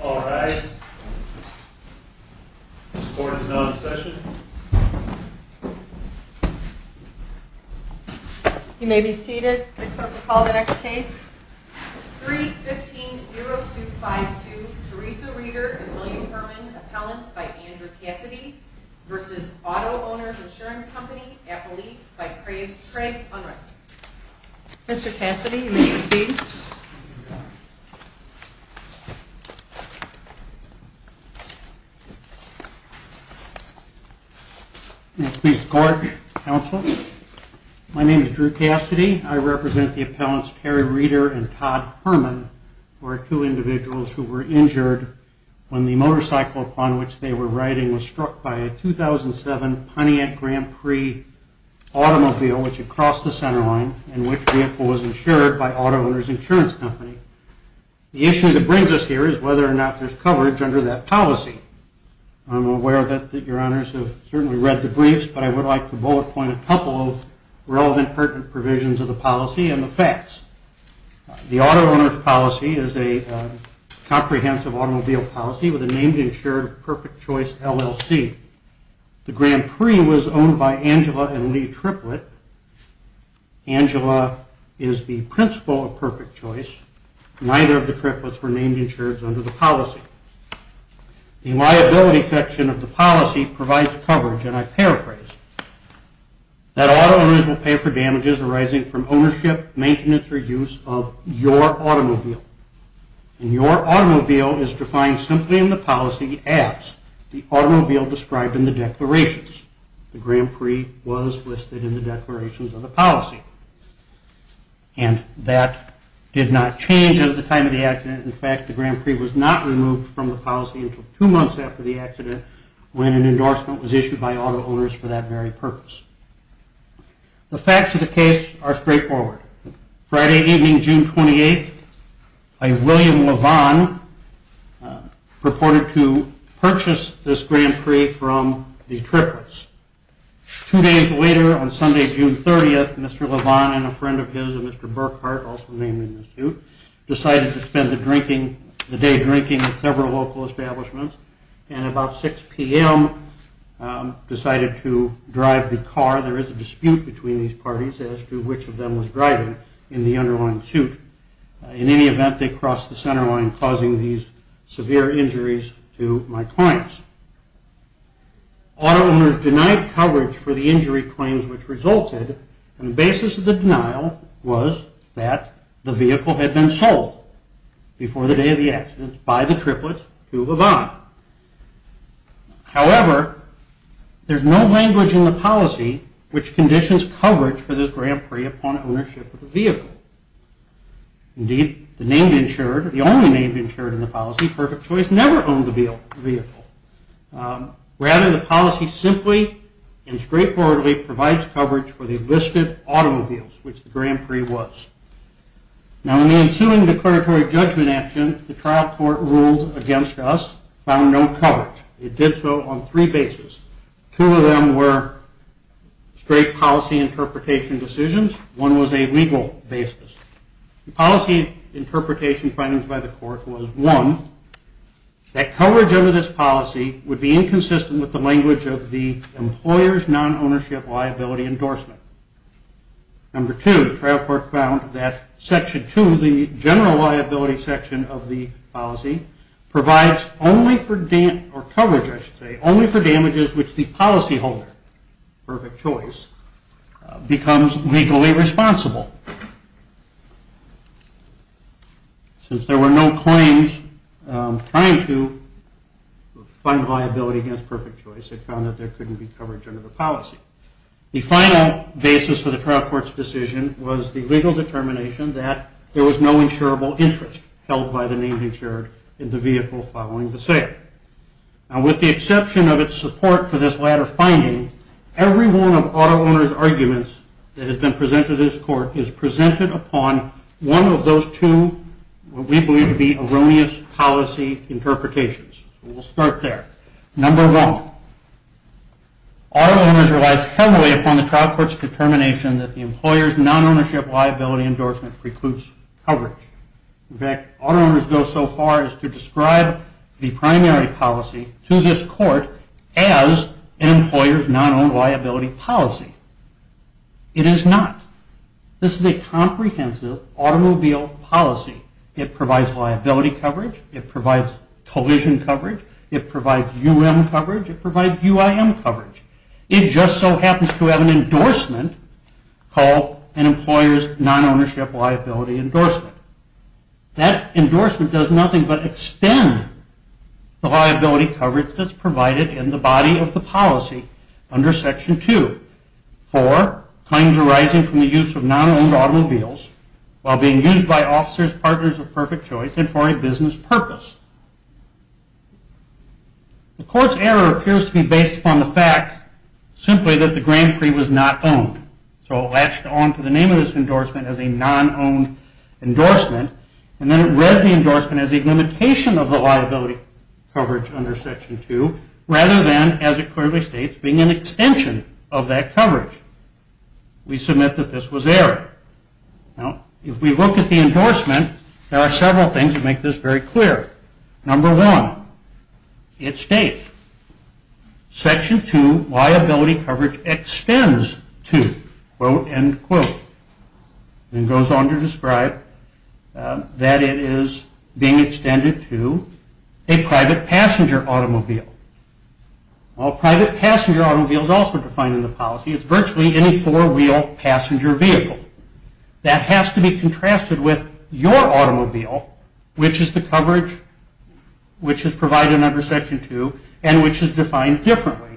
All rise. This court is now in session. You may be seated. I'd like to call the next case. 3-15-0252 Teresa Reeder v. William Herman Appellants v. Andrew Cassidy v. Auto Owners Insurance Company, Appalachia, by Craig Unruh. Mr. Cassidy, you may proceed. May it please the court, counsel. My name is Drew Cassidy. I represent the appellants Terry Reeder and Todd Herman, who are two individuals who were injured when the motorcycle upon which they were riding was struck by a 2007 Pontiac Grand Prix automobile which had crossed the center line and which vehicle was insured by Auto Owners Insurance Company. The issue that brings us here is whether or not there's coverage under that policy. I'm aware that your honors have certainly read the briefs, but I would like to bullet point a couple of relevant pertinent provisions of the policy and the facts. The auto owner's policy is a comprehensive automobile policy with a named insured perfect choice LLC. The Grand Prix was owned by Angela and Lee Triplett. Angela is the principal of perfect choice. Neither of the triplets were named insured under the policy. The liability section of the policy provides coverage, and I paraphrase, that auto owners will pay for damages arising from ownership, maintenance, or use of your automobile. And your automobile is defined simply in the policy as the automobile described in the declarations. The Grand Prix was listed in the declarations of the policy. And that did not change at the time of the accident. In fact, the Grand Prix was not removed from the policy until two months after the accident when an endorsement was issued by auto owners for that very purpose. The facts of the case are straightforward. Friday evening, June 28th, a William LeVon purported to purchase this Grand Prix from the triplets. Two days later, on Sunday, June 30th, Mr. LeVon and a friend of his, a Mr. Burkhart, also named in this suit, decided to spend the day drinking at several local establishments. And about 6 p.m., decided to drive the car. There is a dispute between these parties as to which of them was driving in the underlying suit. In any event, they crossed the center line, causing these severe injuries to my clients. Auto owners denied coverage for the injury claims which resulted. And the basis of the denial was that the vehicle had been sold before the day of the accident by the triplets to LeVon. However, there's no language in the policy which conditions coverage for this Grand Prix upon ownership of the vehicle. Indeed, the only name insured in the policy, Perfect Choice, never owned the vehicle. Rather, the policy simply and straightforwardly provides coverage for the listed automobiles, which the Grand Prix was. Now, in the ensuing declaratory judgment action, the trial court ruled against us, found no coverage. It did so on three bases. Two of them were straight policy interpretation decisions. One was a legal basis. The policy interpretation findings by the court was, one, that coverage under this policy would be inconsistent with the language of the employer's non-ownership liability endorsement. Number two, the trial court found that section two, the general liability section of the policy, provides only for coverage, I should say, since there were no claims trying to fund liability against Perfect Choice. It found that there couldn't be coverage under the policy. The final basis for the trial court's decision was the legal determination that there was no insurable interest held by the name insured in the vehicle following the sale. Now, with the exception of its support for this latter finding, every one of auto owners' arguments that has been presented to this court is presented upon one of those two, what we believe to be erroneous policy interpretations. We'll start there. Number one, auto owners relies heavily upon the trial court's determination that the employer's non-ownership liability endorsement precludes coverage. In fact, auto owners go so far as to describe the primary policy to this court as an employer's non-owned liability policy. It is not. This is a comprehensive automobile policy. It provides liability coverage. It provides collision coverage. It provides UM coverage. It provides UIM coverage. It just so happens to have an endorsement called an employer's non-ownership liability endorsement. That endorsement does nothing but extend the liability coverage that's provided in the body of the policy under Section 2. Four, claims arising from the use of non-owned automobiles while being used by officers, partners of Perfect Choice and for a business purpose. The court's error appears to be based upon the fact simply that the Grand Prix was not owned. So it latched onto the name of this endorsement as a non-owned endorsement, and then it read the endorsement as a limitation of the liability coverage under Section 2, rather than, as it clearly states, being an extension of that coverage. We submit that this was error. Now, if we look at the endorsement, there are several things that make this very clear. Number one, it states, Section 2 liability coverage extends to, quote, end quote. It goes on to describe that it is being extended to a private passenger automobile. Well, a private passenger automobile is also defined in the policy. It's virtually any four-wheel passenger vehicle. That has to be contrasted with your automobile, which is the coverage, which is provided under Section 2, and which is defined differently.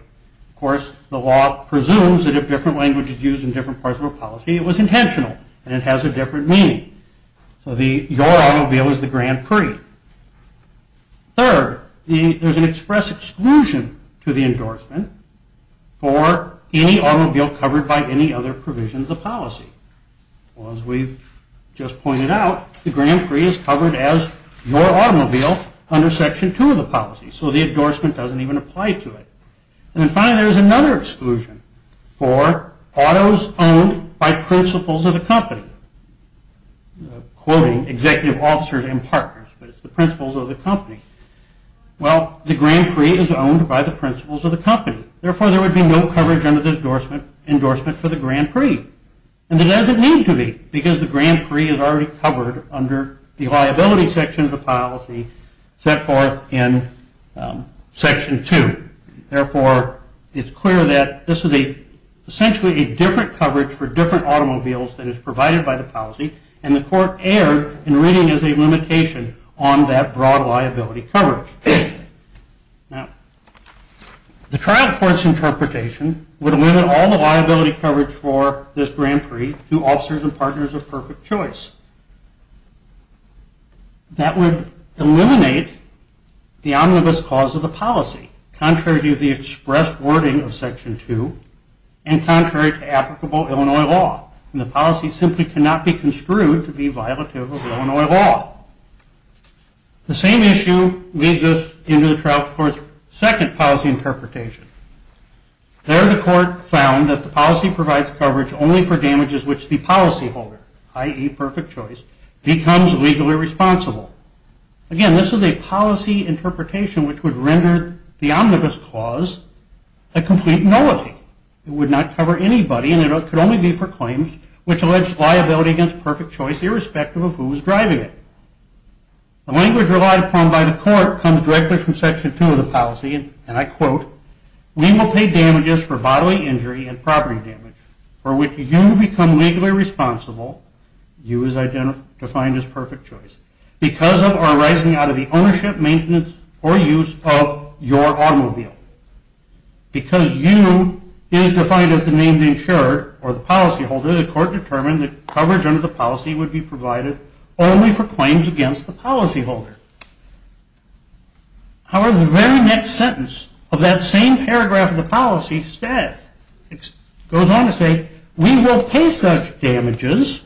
Of course, the law presumes that if different language is used in different parts of a policy, it was intentional, and it has a different meaning. So the your automobile is the Grand Prix. Third, there's an express exclusion to the endorsement for any automobile covered by any other provision of the policy. As we've just pointed out, the Grand Prix is covered as your automobile under Section 2 of the policy, so the endorsement doesn't even apply to it. And finally, there's another exclusion for autos owned by principals of the company, quoting executive officers and partners, but it's the principals of the company. Well, the Grand Prix is owned by the principals of the company. Therefore, there would be no coverage under the endorsement for the Grand Prix, and there doesn't need to be because the Grand Prix is already covered under the liability section of the policy set forth in Section 2. Therefore, it's clear that this is essentially a different coverage for different automobiles that is provided by the policy, and the court erred in reading as a limitation on that broad liability coverage. Now, the trial court's interpretation would limit all the liability coverage for this Grand Prix to officers and partners of perfect choice. That would eliminate the omnibus cause of the policy, contrary to the expressed wording of Section 2, and contrary to applicable Illinois law. And the policy simply cannot be construed to be violative of Illinois law. The same issue leads us into the trial court's second policy interpretation. There, the court found that the policy provides coverage only for damages which the policyholder, i.e., perfect choice, becomes legally responsible. Again, this is a policy interpretation which would render the omnibus clause a complete nullity. It would not cover anybody, and it could only be for claims which allege liability against perfect choice, irrespective of who was driving it. The language relied upon by the court comes directly from Section 2 of the policy, and I quote, We will pay damages for bodily injury and property damage for which you become legally responsible. You is defined as perfect choice. Because of or arising out of the ownership, maintenance, or use of your automobile. Because you is defined as the named insurer or the policyholder, the court determined that coverage under the policy would be provided only for claims against the policyholder. However, the very next sentence of that same paragraph of the policy status goes on to say, We will pay such damages,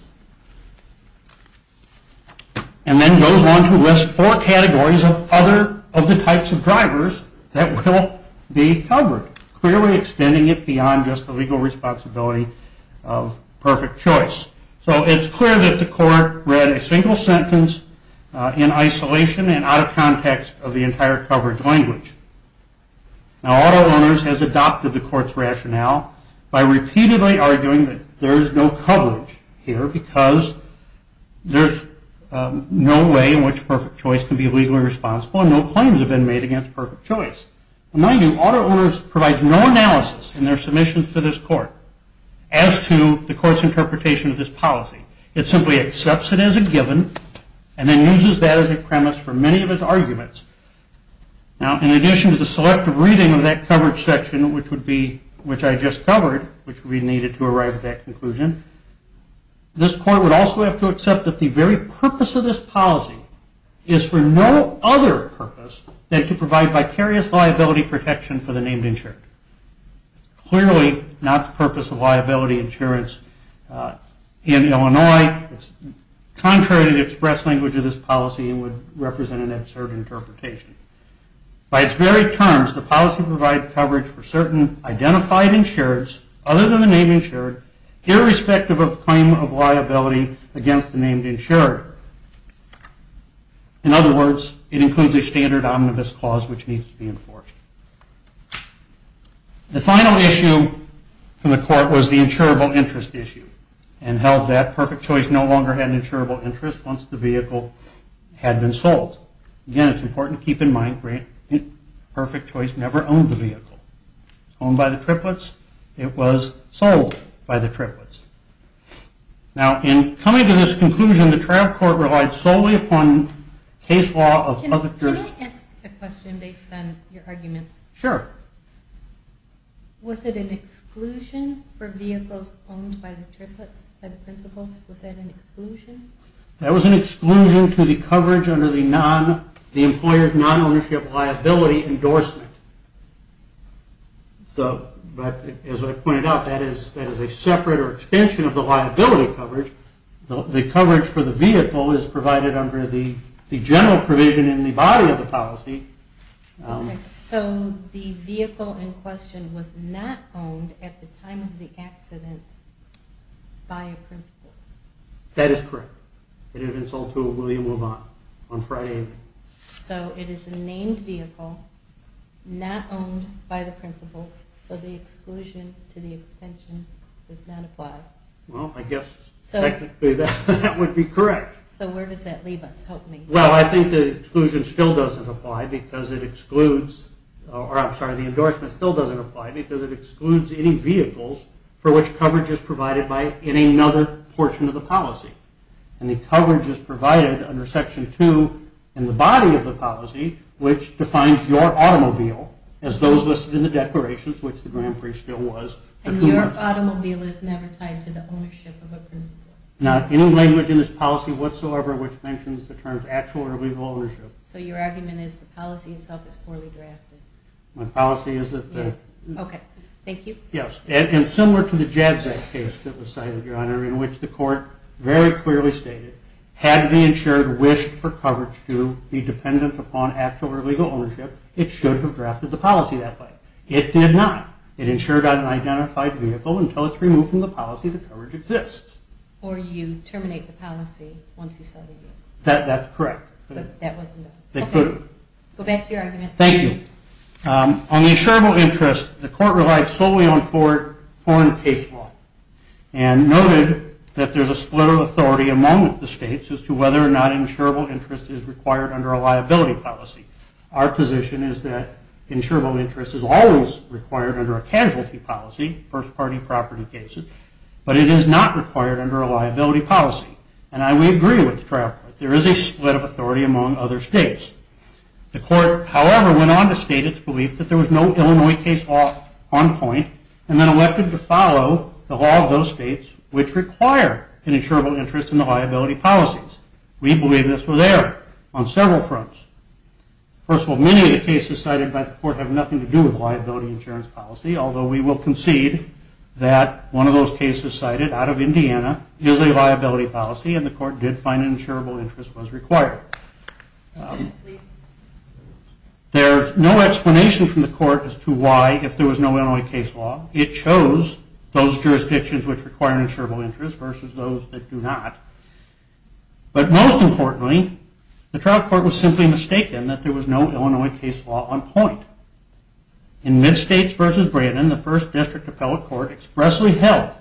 and then goes on to list four categories of the types of drivers that will be covered, clearly extending it beyond just the legal responsibility of perfect choice. So it's clear that the court read a single sentence in isolation and out of context of the entire coverage language. Now, Auto Owners has adopted the court's rationale by repeatedly arguing that there is no coverage here, because there's no way in which perfect choice can be legally responsible, and no claims have been made against perfect choice. Mind you, Auto Owners provides no analysis in their submissions to this court, as to the court's interpretation of this policy. It simply accepts it as a given, and then uses that as a premise for many of its arguments. Now, in addition to the selective reading of that coverage section, which I just covered, which we needed to arrive at that conclusion, this court would also have to accept that the very purpose of this policy is for no other purpose than to provide vicarious liability protection for the named insured. Clearly, not the purpose of liability insurance in Illinois. It's contrary to the express language of this policy, and would represent an absurd interpretation. By its very terms, the policy provides coverage for certain identified insureds, other than the name insured, irrespective of claim of liability against the named insured. In other words, it includes a standard omnibus clause which needs to be enforced. The final issue from the court was the insurable interest issue, and held that perfect choice no longer had an insurable interest once the vehicle had been sold. Again, it's important to keep in mind that perfect choice never owned the vehicle. It was owned by the triplets, it was sold by the triplets. Now, in coming to this conclusion, the trial court relied solely upon case law of other jurors. Can I ask a question based on your arguments? Sure. Was it an exclusion for vehicles owned by the triplets, by the principals? Was that an exclusion? That was an exclusion to the coverage under the employer's non-ownership liability endorsement. So, as I pointed out, that is a separate or extension of the liability coverage. The coverage for the vehicle is provided under the general provision in the body of the policy. So, the vehicle in question was not owned at the time of the accident by a principal? That is correct. It had been sold to a William LaVon on Friday evening. So, it is a named vehicle, not owned by the principals. So, the exclusion to the extension does not apply. Well, I guess technically that would be correct. So, where does that leave us? Help me. Well, I think the exclusion still doesn't apply because it excludes, or I'm sorry, the endorsement still doesn't apply because it excludes any vehicles for which coverage is provided in another portion of the policy. And the coverage is provided under Section 2 in the body of the policy, which defines your automobile as those listed in the declarations, which the Grand Prix still was. And your automobile is never tied to the ownership of a principal? Not any language in this policy whatsoever which mentions the terms actual or legal ownership. So, your argument is the policy itself is poorly drafted? My policy is that the... Okay. Thank you. Yes. And similar to the JADZEC case that was cited, Your Honor, in which the court very clearly stated had the insured wished for coverage to be dependent upon actual or legal ownership, it should have drafted the policy that way. It did not. It insured on an identified vehicle until it's removed from the policy the coverage exists. Or you terminate the policy once you sell the vehicle. That's correct. But that wasn't done. Okay. Go back to your argument. Thank you. On the insurable interest, the court relied solely on foreign case law and noted that there's a split of authority among the states as to whether or not insurable interest is required under a liability policy. Our position is that insurable interest is always required under a casualty policy, first-party property cases, but it is not required under a liability policy. And we agree with the trial court. There is a split of authority among other states. The court, however, went on to state its belief that there was no Illinois case law on point and then elected to follow the law of those states which require an insurable interest in the liability policies. We believe this was error on several fronts. First of all, many of the cases cited by the court have nothing to do with liability insurance policy, although we will concede that one of those cases cited out of Indiana is a liability policy, and the court did find an insurable interest was required. There's no explanation from the court as to why, if there was no Illinois case law. It chose those jurisdictions which require an insurable interest versus those that do not. But most importantly, the trial court was simply mistaken that there was no Illinois case law on point. In Midstates v. Brandon, the first district appellate court expressly held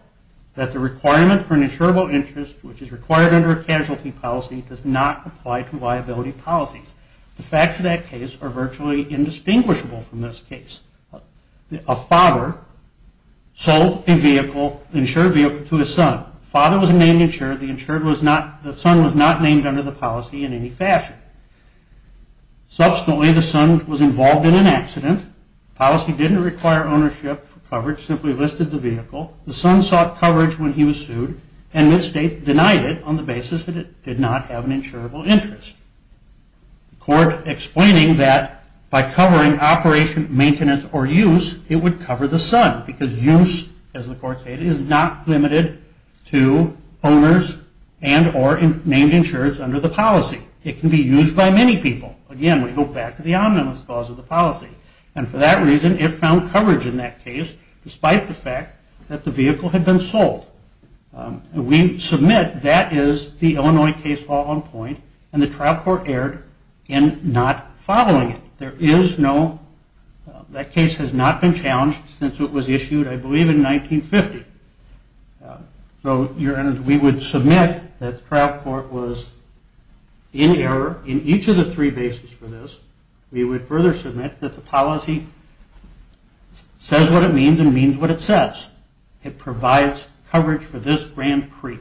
that the requirement for an insurable interest, which is required under a casualty policy, does not apply to liability policies. The facts of that case are virtually indistinguishable from this case. A father sold an insured vehicle to his son. The father was named insured. The son was not named under the policy in any fashion. Subsequently, the son was involved in an accident. The policy didn't require ownership for coverage. It simply listed the vehicle. The son sought coverage when he was sued, and Midstate denied it on the basis that it did not have an insurable interest. The court explained that by covering operation, maintenance, or use, it would cover the son, because use, as the court stated, is not limited to owners and or named insureds under the policy. It can be used by many people. Again, we go back to the omnibus clause of the policy. For that reason, it found coverage in that case, despite the fact that the vehicle had been sold. We submit that is the Illinois case all on point, and the trial court erred in not following it. That case has not been challenged since it was issued, I believe, in 1950. We would submit that the trial court was in error in each of the three bases for this. We would further submit that the policy says what it means and means what it says. It provides coverage for this Grand Prix.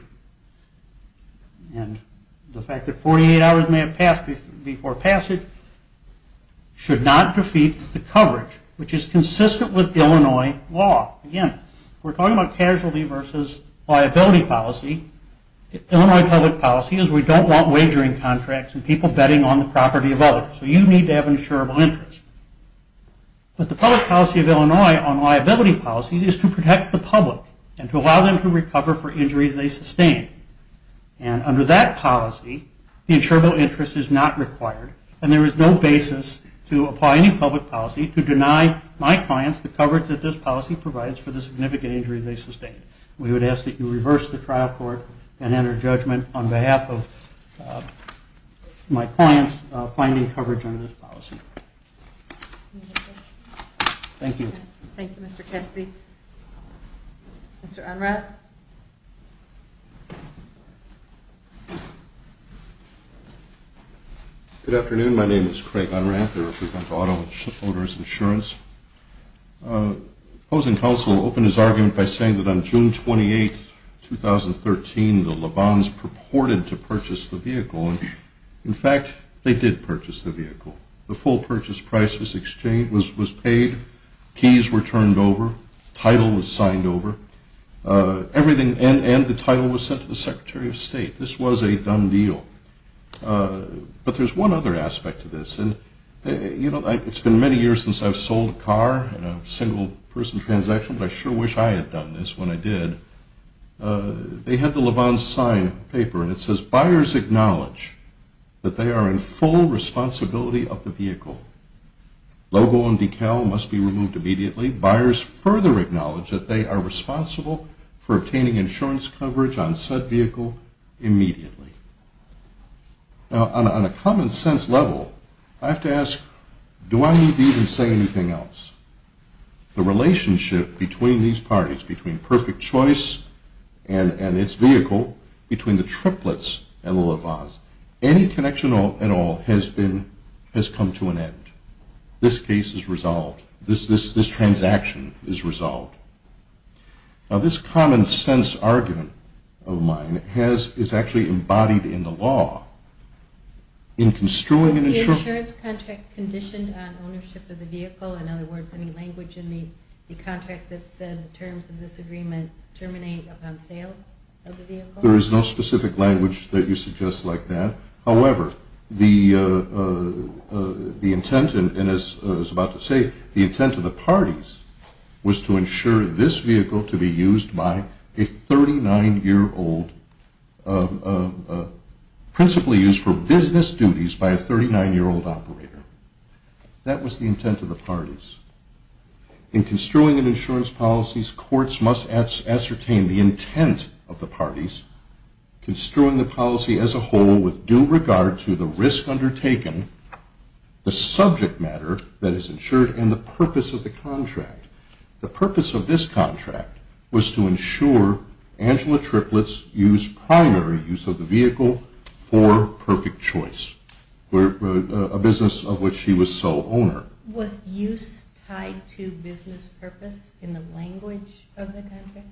The fact that 48 hours may have passed before passage should not defeat the coverage, which is consistent with Illinois law. Again, we're talking about casualty versus liability policy. Illinois public policy is we don't want wagering contracts and people betting on the property of others. So you need to have an insurable interest. But the public policy of Illinois on liability policies is to protect the public and to allow them to recover for injuries they sustained. Under that policy, the insurable interest is not required, and there is no basis to apply any public policy to deny my clients the coverage that this policy provides for the significant injuries they sustained. We would ask that you reverse the trial court and enter judgment on behalf of my clients finding coverage under this policy. Thank you. Thank you, Mr. Kessley. Mr. Unrath. Good afternoon. My name is Craig Unrath. I represent auto owners insurance. Opposing counsel opened his argument by saying that on June 28, 2013, the LeBans purported to purchase the vehicle. In fact, they did purchase the vehicle. The full purchase price was paid, keys were turned over, title was signed over, and the title was sent to the Secretary of State. This was a done deal. But there's one other aspect to this. It's been many years since I've sold a car in a single-person transaction, but I sure wish I had done this when I did. They had the LeBans sign paper, and it says, Buyers acknowledge that they are in full responsibility of the vehicle. Logo and decal must be removed immediately. Buyers further acknowledge that they are responsible for obtaining insurance coverage on said vehicle immediately. Now, on a common sense level, I have to ask, do I need to even say anything else? The relationship between these parties, between Perfect Choice and its vehicle, between the triplets and the LeBans, any connection at all has come to an end. This case is resolved. This transaction is resolved. Now, this common sense argument of mine is actually embodied in the law. Is the insurance contract conditioned on ownership of the vehicle? In other words, any language in the contract that said the terms of this agreement terminate upon sale of the vehicle? There is no specific language that you suggest like that. However, the intent, and as I was about to say, the intent of the parties was to ensure this vehicle to be used by a 39-year-old, principally used for business duties by a 39-year-old operator. That was the intent of the parties. In construing an insurance policy, courts must ascertain the intent of the parties. Construing the policy as a whole with due regard to the risk undertaken, the subject matter that is insured, and the purpose of the contract. The purpose of this contract was to ensure Angela Triplett's primary use of the vehicle for Perfect Choice, a business of which she was sole owner. Was use tied to business purpose in the language of the contract?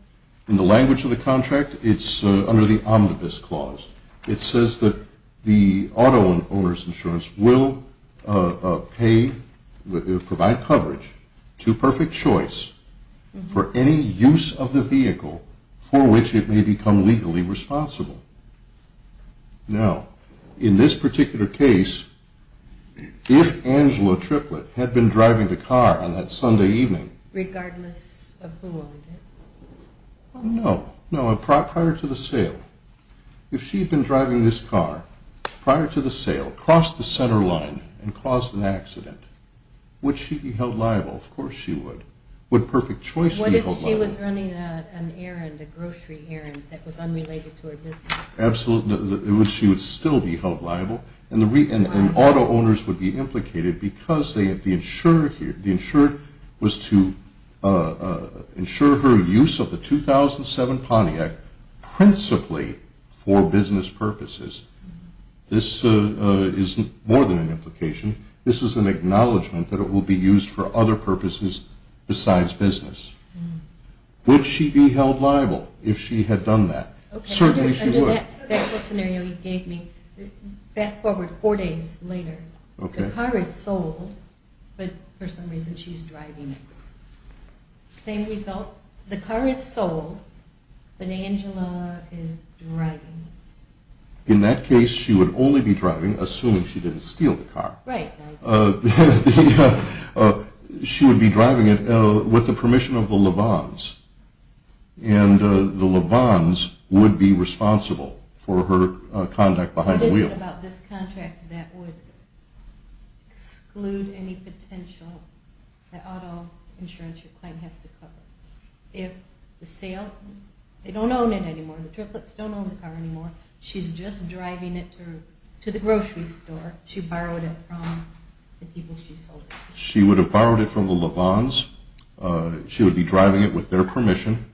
In the language of the contract, it's under the Omnibus Clause. It says that the auto owner's insurance will pay, provide coverage to Perfect Choice for any use of the vehicle for which it may become legally responsible. Now, in this particular case, if Angela Triplett had been driving the car on that Sunday evening. Regardless of who owned it? No, prior to the sale. If she had been driving this car prior to the sale, crossed the center line, and caused an accident, would she be held liable? Of course she would. Would Perfect Choice be held liable? What if she was running an errand, a grocery errand, that was unrelated to her business? Absolutely. She would still be held liable. And auto owners would be implicated because the insurer was to ensure her use of the 2007 Pontiac principally for business purposes. This is more than an implication. This is an acknowledgment that it will be used for other purposes besides business. Would she be held liable if she had done that? Certainly she would. Under that special scenario you gave me, fast forward four days later. The car is sold, but for some reason she's driving it. Same result. The car is sold, but Angela is driving it. In that case, she would only be driving, assuming she didn't steal the car. Right. She would be driving it with the permission of the Levons, and the Levons would be responsible for her conduct behind the wheel. What about this contract that would exclude any potential that auto insurance your client has to cover? If the sale, they don't own it anymore. The triplets don't own the car anymore. She's just driving it to the grocery store. She borrowed it from the people she sold it to. She would have borrowed it from the Levons. She would be driving it with their permission,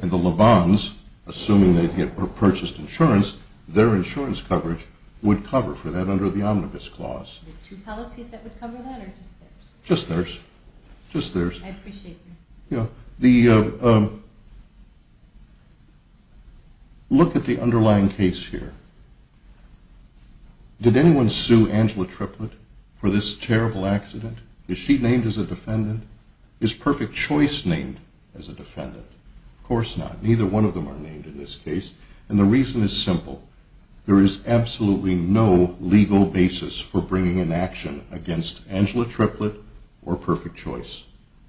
and the Levons, assuming they had purchased insurance, their insurance coverage would cover for that under the Omnibus Clause. The two policies that would cover that or just theirs? Just theirs. Just theirs. I appreciate that. Look at the underlying case here. Did anyone sue Angela Triplett for this terrible accident? Is she named as a defendant? Is Perfect Choice named as a defendant? Of course not. Neither one of them are named in this case. And the reason is simple. There is absolutely no legal basis for bringing an action against Angela Triplett or Perfect Choice.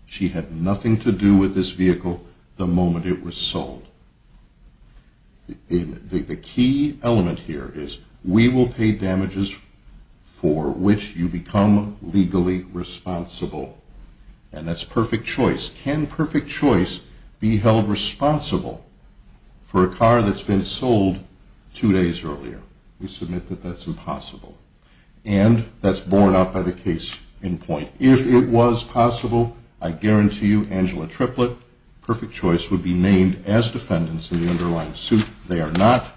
She had nothing to do with this vehicle the moment it was sold. The key element here is we will pay damages for which you become legally responsible. And that's Perfect Choice. Can Perfect Choice be held responsible for a car that's been sold two days earlier? We submit that that's impossible. And that's borne out by the case in point. If it was possible, I guarantee you Angela Triplett, Perfect Choice would be named as defendants in the underlying suit. They are not.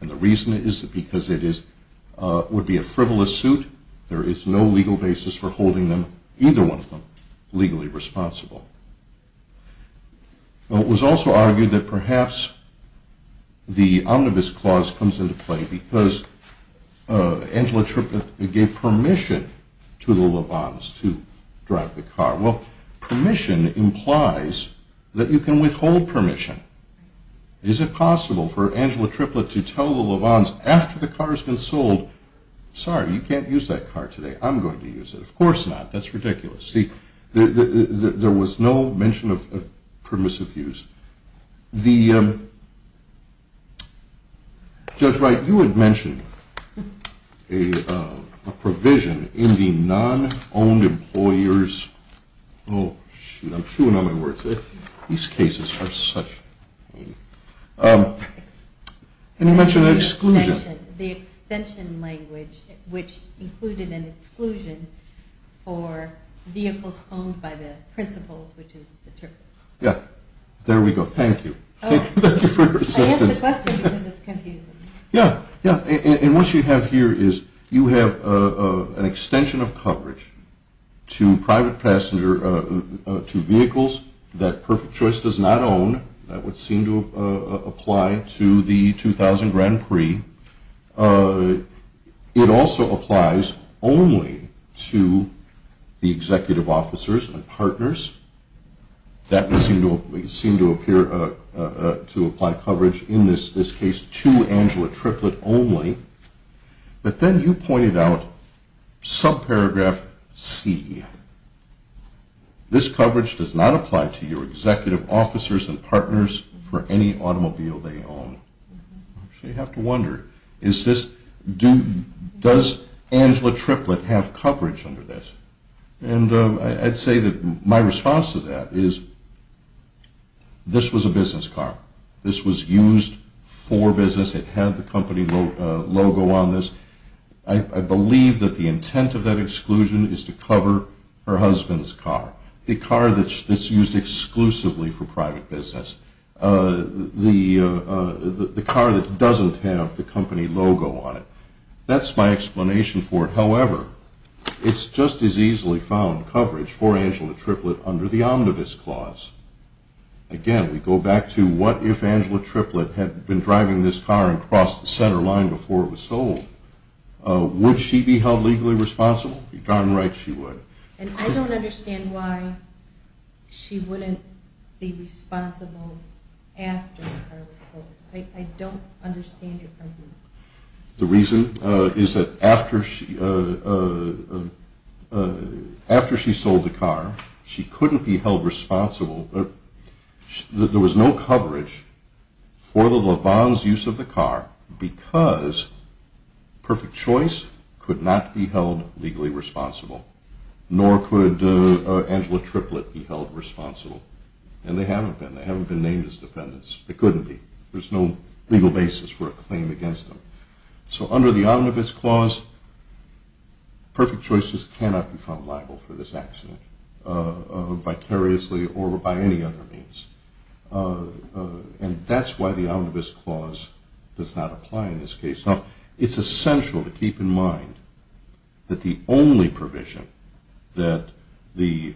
And the reason is because it would be a frivolous suit. There is no legal basis for holding either one of them legally responsible. It was also argued that perhaps the Omnibus Clause comes into play because Angela Triplett gave permission to the Levons to drive the car. Well, permission implies that you can withhold permission. Is it possible for Angela Triplett to tell the Levons after the car has been sold, sorry, you can't use that car today. I'm going to use it. Of course not. That's ridiculous. There was no mention of permissive use. Judge Wright, you had mentioned a provision in the non-owned employer's, oh, shoot, I'm chewing on my words. These cases are such. And you mentioned an exclusion. The extension language, which included an exclusion for vehicles owned by the principals, which is the triplet. Yeah. There we go. Thank you. Thank you for your assistance. I asked the question because it's confusing. Yeah. Yeah. And what you have here is you have an extension of coverage to private passenger, to vehicles that Perfect Choice does not own. That would seem to apply to the 2000 Grand Prix. It also applies only to the executive officers and partners. That would seem to appear to apply coverage in this case to Angela Triplett only. But then you pointed out subparagraph C. This coverage does not apply to your executive officers and partners for any automobile they own. So you have to wonder, does Angela Triplett have coverage under this? And I'd say that my response to that is this was a business car. This was used for business. It had the company logo on this. I believe that the intent of that exclusion is to cover her husband's car, the car that's used exclusively for private business. The car that doesn't have the company logo on it. That's my explanation for it. However, it's just as easily found coverage for Angela Triplett under the Omnibus Clause. Again, we go back to what if Angela Triplett had been driving this car and crossed the center line before it was sold? Would she be held legally responsible? If you're darn right, she would. And I don't understand why she wouldn't be responsible after the car was sold. I don't understand it from here. The reason is that after she sold the car, she couldn't be held responsible. There was no coverage for the LaVon's use of the car because Perfect Choice could not be held legally responsible, nor could Angela Triplett be held responsible. And they haven't been. They haven't been named as defendants. They couldn't be. There's no legal basis for a claim against them. So under the Omnibus Clause, Perfect Choice just cannot be found liable for this accident, vicariously or by any other means. And that's why the Omnibus Clause does not apply in this case. Now, it's essential to keep in mind that the only provision that the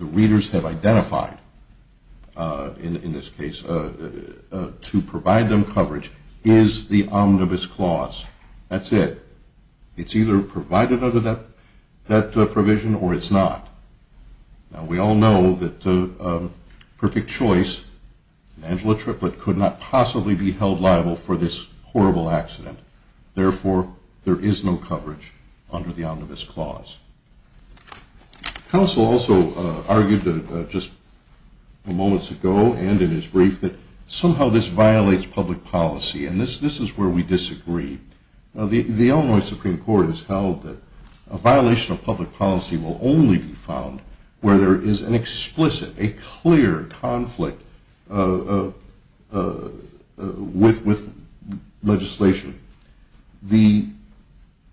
readers have identified in this case to provide them coverage is the Omnibus Clause. That's it. It's either provided under that provision or it's not. Now, we all know that Perfect Choice and Angela Triplett could not possibly be held liable for this horrible accident. Therefore, there is no coverage under the Omnibus Clause. Counsel also argued just moments ago and in his brief that somehow this violates public policy, and this is where we disagree. The Illinois Supreme Court has held that a violation of public policy will only be found where there is an explicit, a clear conflict with legislation.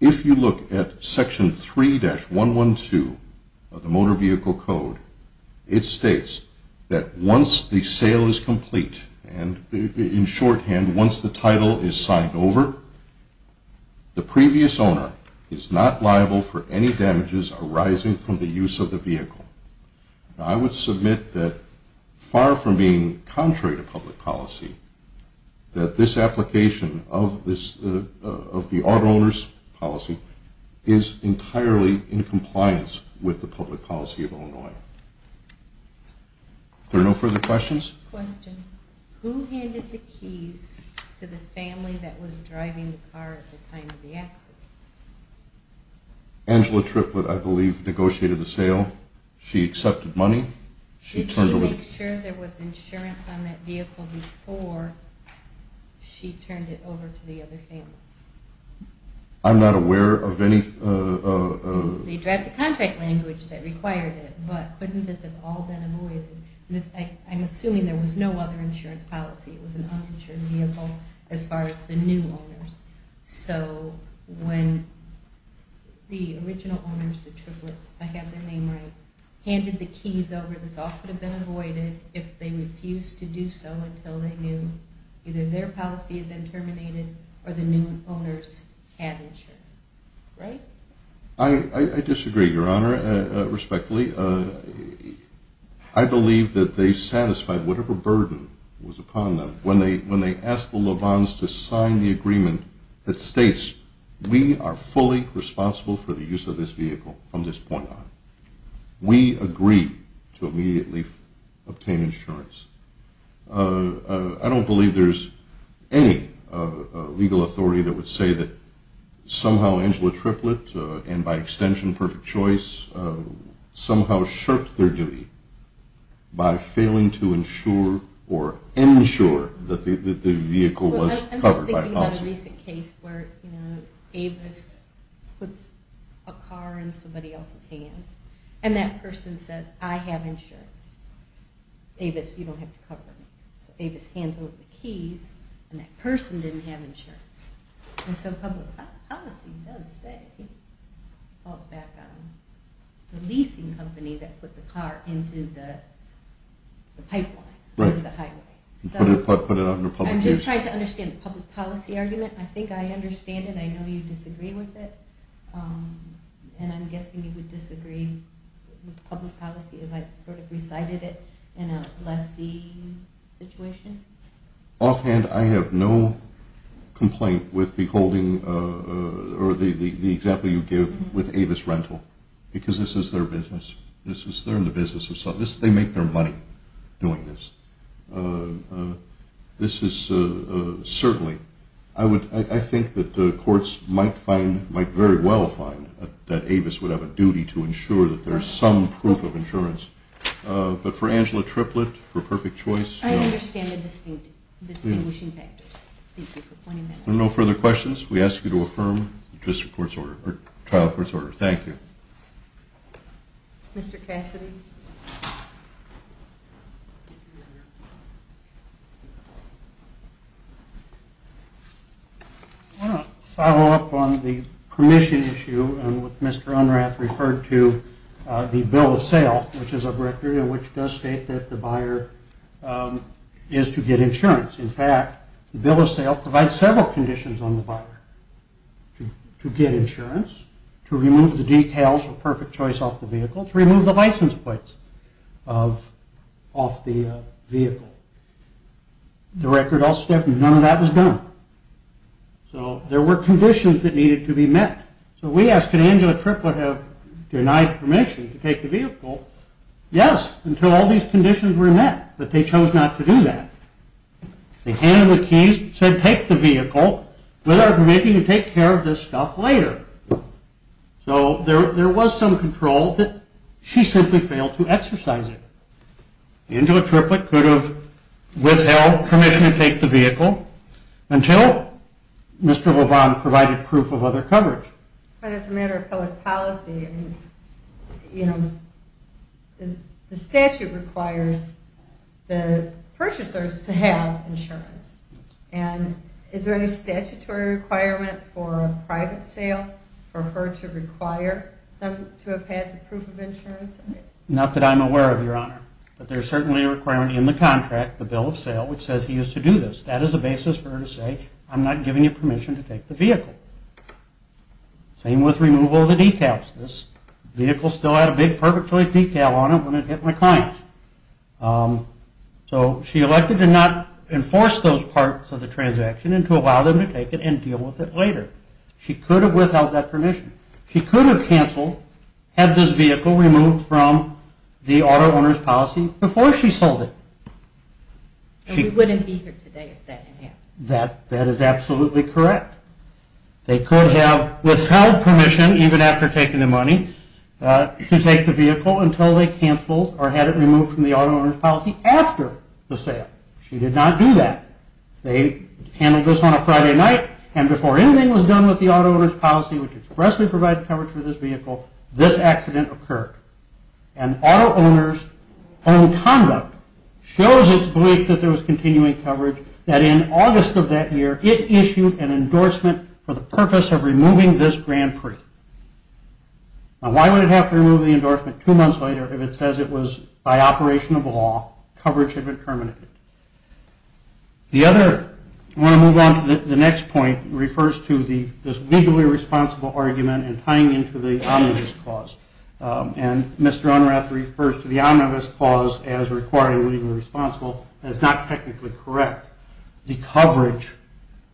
If you look at Section 3-112 of the Motor Vehicle Code, it states that once the sale is complete and in shorthand, once the title is signed over, the previous owner is not liable for any damages arising from the use of the vehicle. Now, I would submit that far from being contrary to public policy, that this application of the auto owner's policy is entirely in compliance with the public policy of Illinois. Are there no further questions? Question. Who handed the keys to the family that was driving the car at the time of the accident? Angela Triplett, I believe, negotiated the sale. She accepted money. It should make sure there was insurance on that vehicle before she turned it over to the other family. I'm not aware of any… They drafted a contract language that required it, but couldn't this have all been avoided? I'm assuming there was no other insurance policy. It was an uninsured vehicle as far as the new owners. So when the original owners, the Triplets, if I have their name right, handed the keys over, this all could have been avoided if they refused to do so until they knew either their policy had been terminated or the new owners had insurance, right? I disagree, Your Honor, respectfully. I believe that they satisfied whatever burden was upon them when they asked the Levons to sign the agreement that states we are fully responsible for the use of this vehicle from this point on. We agree to immediately obtain insurance. I don't believe there's any legal authority that would say that somehow Angela Triplett, and by extension Perfect Choice, somehow shirked their duty by failing to ensure or ensure that the vehicle was covered by policy. I'm just thinking about a recent case where Avis puts a car in somebody else's hands and that person says I have insurance. Avis, you don't have to cover me. So Avis hands over the keys and that person didn't have insurance. And so public policy does say it falls back on the leasing company that put the car into the pipeline, into the highway. So I'm just trying to understand the public policy argument. I think I understand it. I know you disagree with it, and I'm guessing you would disagree with public policy if I sort of recited it in a lessee situation. Offhand, I have no complaint with the holding or the example you give with Avis Rental, because this is their business. This is their business. They make their money doing this. This is certainly, I think that the courts might very well find that Avis would have a duty to ensure that there's some proof of insurance. But for Angela Triplett, for Perfect Choice? I understand the distinguishing factors. Thank you for pointing that out. There are no further questions. We ask you to affirm the trial court's order. Thank you. Mr. Cassidy? I want to follow up on the permission issue with Mr. Unrath referred to the bill of sale, which is a record in which it does state that the buyer is to get insurance. In fact, the bill of sale provides several conditions on the buyer to get insurance, to remove the details of Perfect Choice off the vehicle, to remove the license plates off the vehicle. The record also states none of that was done. So there were conditions that needed to be met. So we asked, could Angela Triplett have denied permission to take the vehicle? Yes, until all these conditions were met, but they chose not to do that. They handed the keys, said take the vehicle, with our permitting to take care of this stuff later. So there was some control that she simply failed to exercise it. Angela Triplett could have withheld permission to take the vehicle until Mr. LeVon provided proof of other coverage. But as a matter of public policy, you know, the statute requires the purchasers to have insurance. And is there any statutory requirement for a private sale for her to require them to have had the proof of insurance? Not that I'm aware of, Your Honor. But there's certainly a requirement in the contract, the bill of sale, which says he is to do this. That is a basis for her to say I'm not giving you permission to take the vehicle. Same with removal of the decals. This vehicle still had a big perfect choice decal on it when it hit my client. So she elected to not enforce those parts of the transaction and to allow them to take it and deal with it later. She could have withheld that permission. She could have canceled, had this vehicle removed from the auto owner's policy before she sold it. And we wouldn't be here today if that didn't happen. That is absolutely correct. They could have withheld permission, even after taking the money, to take the vehicle until they canceled or had it removed from the auto owner's policy after the sale. She did not do that. They handled this on a Friday night, and before anything was done with the auto owner's policy, which expressly provided coverage for this vehicle, this accident occurred. And auto owner's own conduct shows its belief that there was continuing coverage, that in August of that year it issued an endorsement for the purpose of removing this Grand Prix. Now why would it have to remove the endorsement two months later if it says it was by operation of law, coverage had been terminated. The other, I want to move on to the next point, refers to this legally responsible argument and tying into the omnibus clause. And Mr. Unrath refers to the omnibus clause as requiring legally responsible, and it's not technically correct. The coverage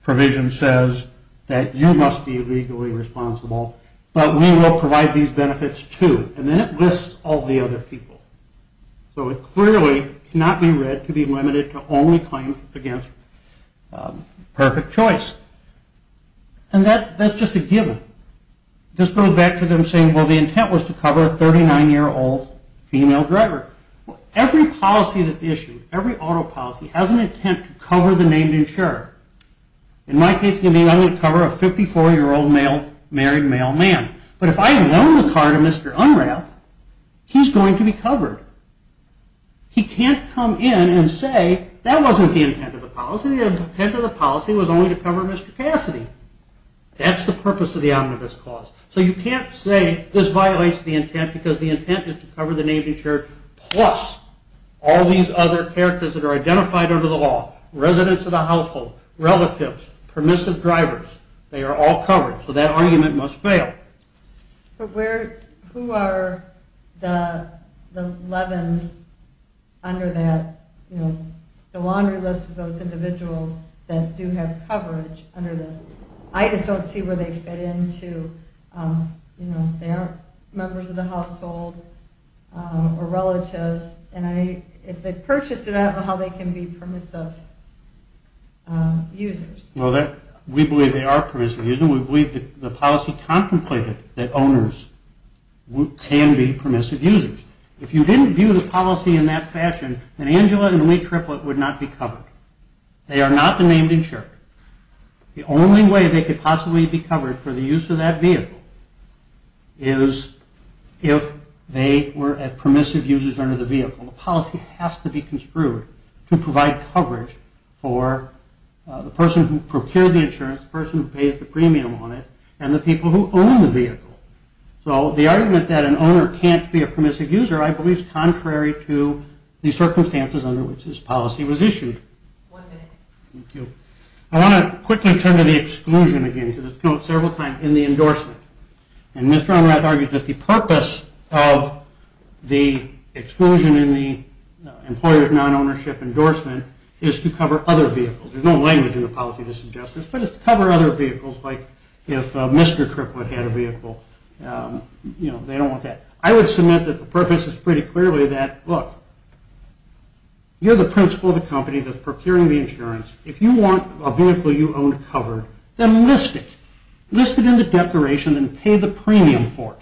provision says that you must be legally responsible, but we will provide these benefits too. And then it lists all the other people. So it clearly cannot be read to be limited to only claim against perfect choice. And that's just a given. This goes back to them saying, well, the intent was to cover a 39-year-old female driver. Every policy that's issued, every auto policy, has an intent to cover the named insurer. In my case, I'm going to cover a 54-year-old married male man. But if I loan the car to Mr. Unrath, he's going to be covered. He can't come in and say, that wasn't the intent of the policy. The intent of the policy was only to cover Mr. Cassidy. That's the purpose of the omnibus clause. So you can't say this violates the intent because the intent is to cover the named insurer plus all these other characters that are identified under the law, residents of the household, relatives, permissive drivers, they are all covered. So that argument must fail. Who are the leavens under that, the laundry list of those individuals that do have coverage under this? I just don't see where they fit into, they aren't members of the household or relatives. And if they purchased it, I don't know how they can be permissive users. We believe they are permissive users. We believe that the policy contemplated that owners can be permissive users. If you didn't view the policy in that fashion, then Angela and Lee Triplett would not be covered. They are not the named insurer. The only way they could possibly be covered for the use of that vehicle is if they were permissive users under the vehicle. The policy has to be construed to provide coverage for the person who procured the insurance, the person who pays the premium on it, and the people who own the vehicle. So the argument that an owner can't be a permissive user, I believe is contrary to the circumstances under which this policy was issued. Thank you. I want to quickly turn to the exclusion again because it's come up several times in the endorsement. And Mr. Onrath argued that the purpose of the exclusion in the employer's non-ownership endorsement is to cover other vehicles. There's no language in the policy that suggests this, but it's to cover other vehicles like if Mr. Triplett had a vehicle. They don't want that. I would submit that the purpose is pretty clearly that, look, you're the principal of the company that's procuring the insurance. If you want a vehicle you own covered, then list it. List it in the declaration and pay the premium for it.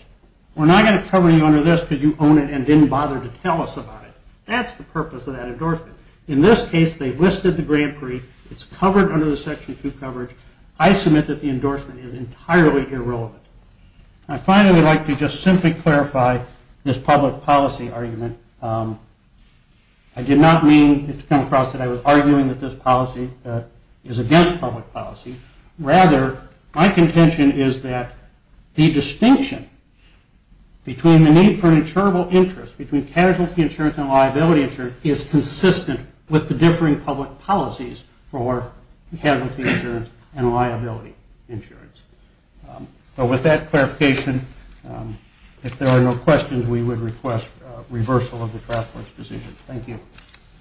We're not going to cover you under this because you own it and didn't bother to tell us about it. That's the purpose of that endorsement. In this case, they listed the Grand Prix. It's covered under the Section 2 coverage. I submit that the endorsement is entirely irrelevant. I finally would like to just simply clarify this public policy argument. I did not mean to come across that I was arguing that this policy is against public policy. Rather, my contention is that the distinction between the need for an insurable interest, between casualty insurance and liability insurance, is consistent with the differing public policies for casualty insurance and liability insurance. So with that clarification, if there are no questions, we would request reversal of the Triplett's decision. Thank you.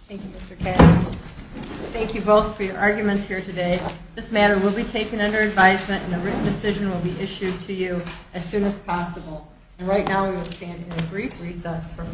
Thank you, Mr. Cassidy. Thank you both for your arguments here today. This matter will be taken under advisement, and a written decision will be issued to you as soon as possible. And right now we will stand in a brief recess for comment.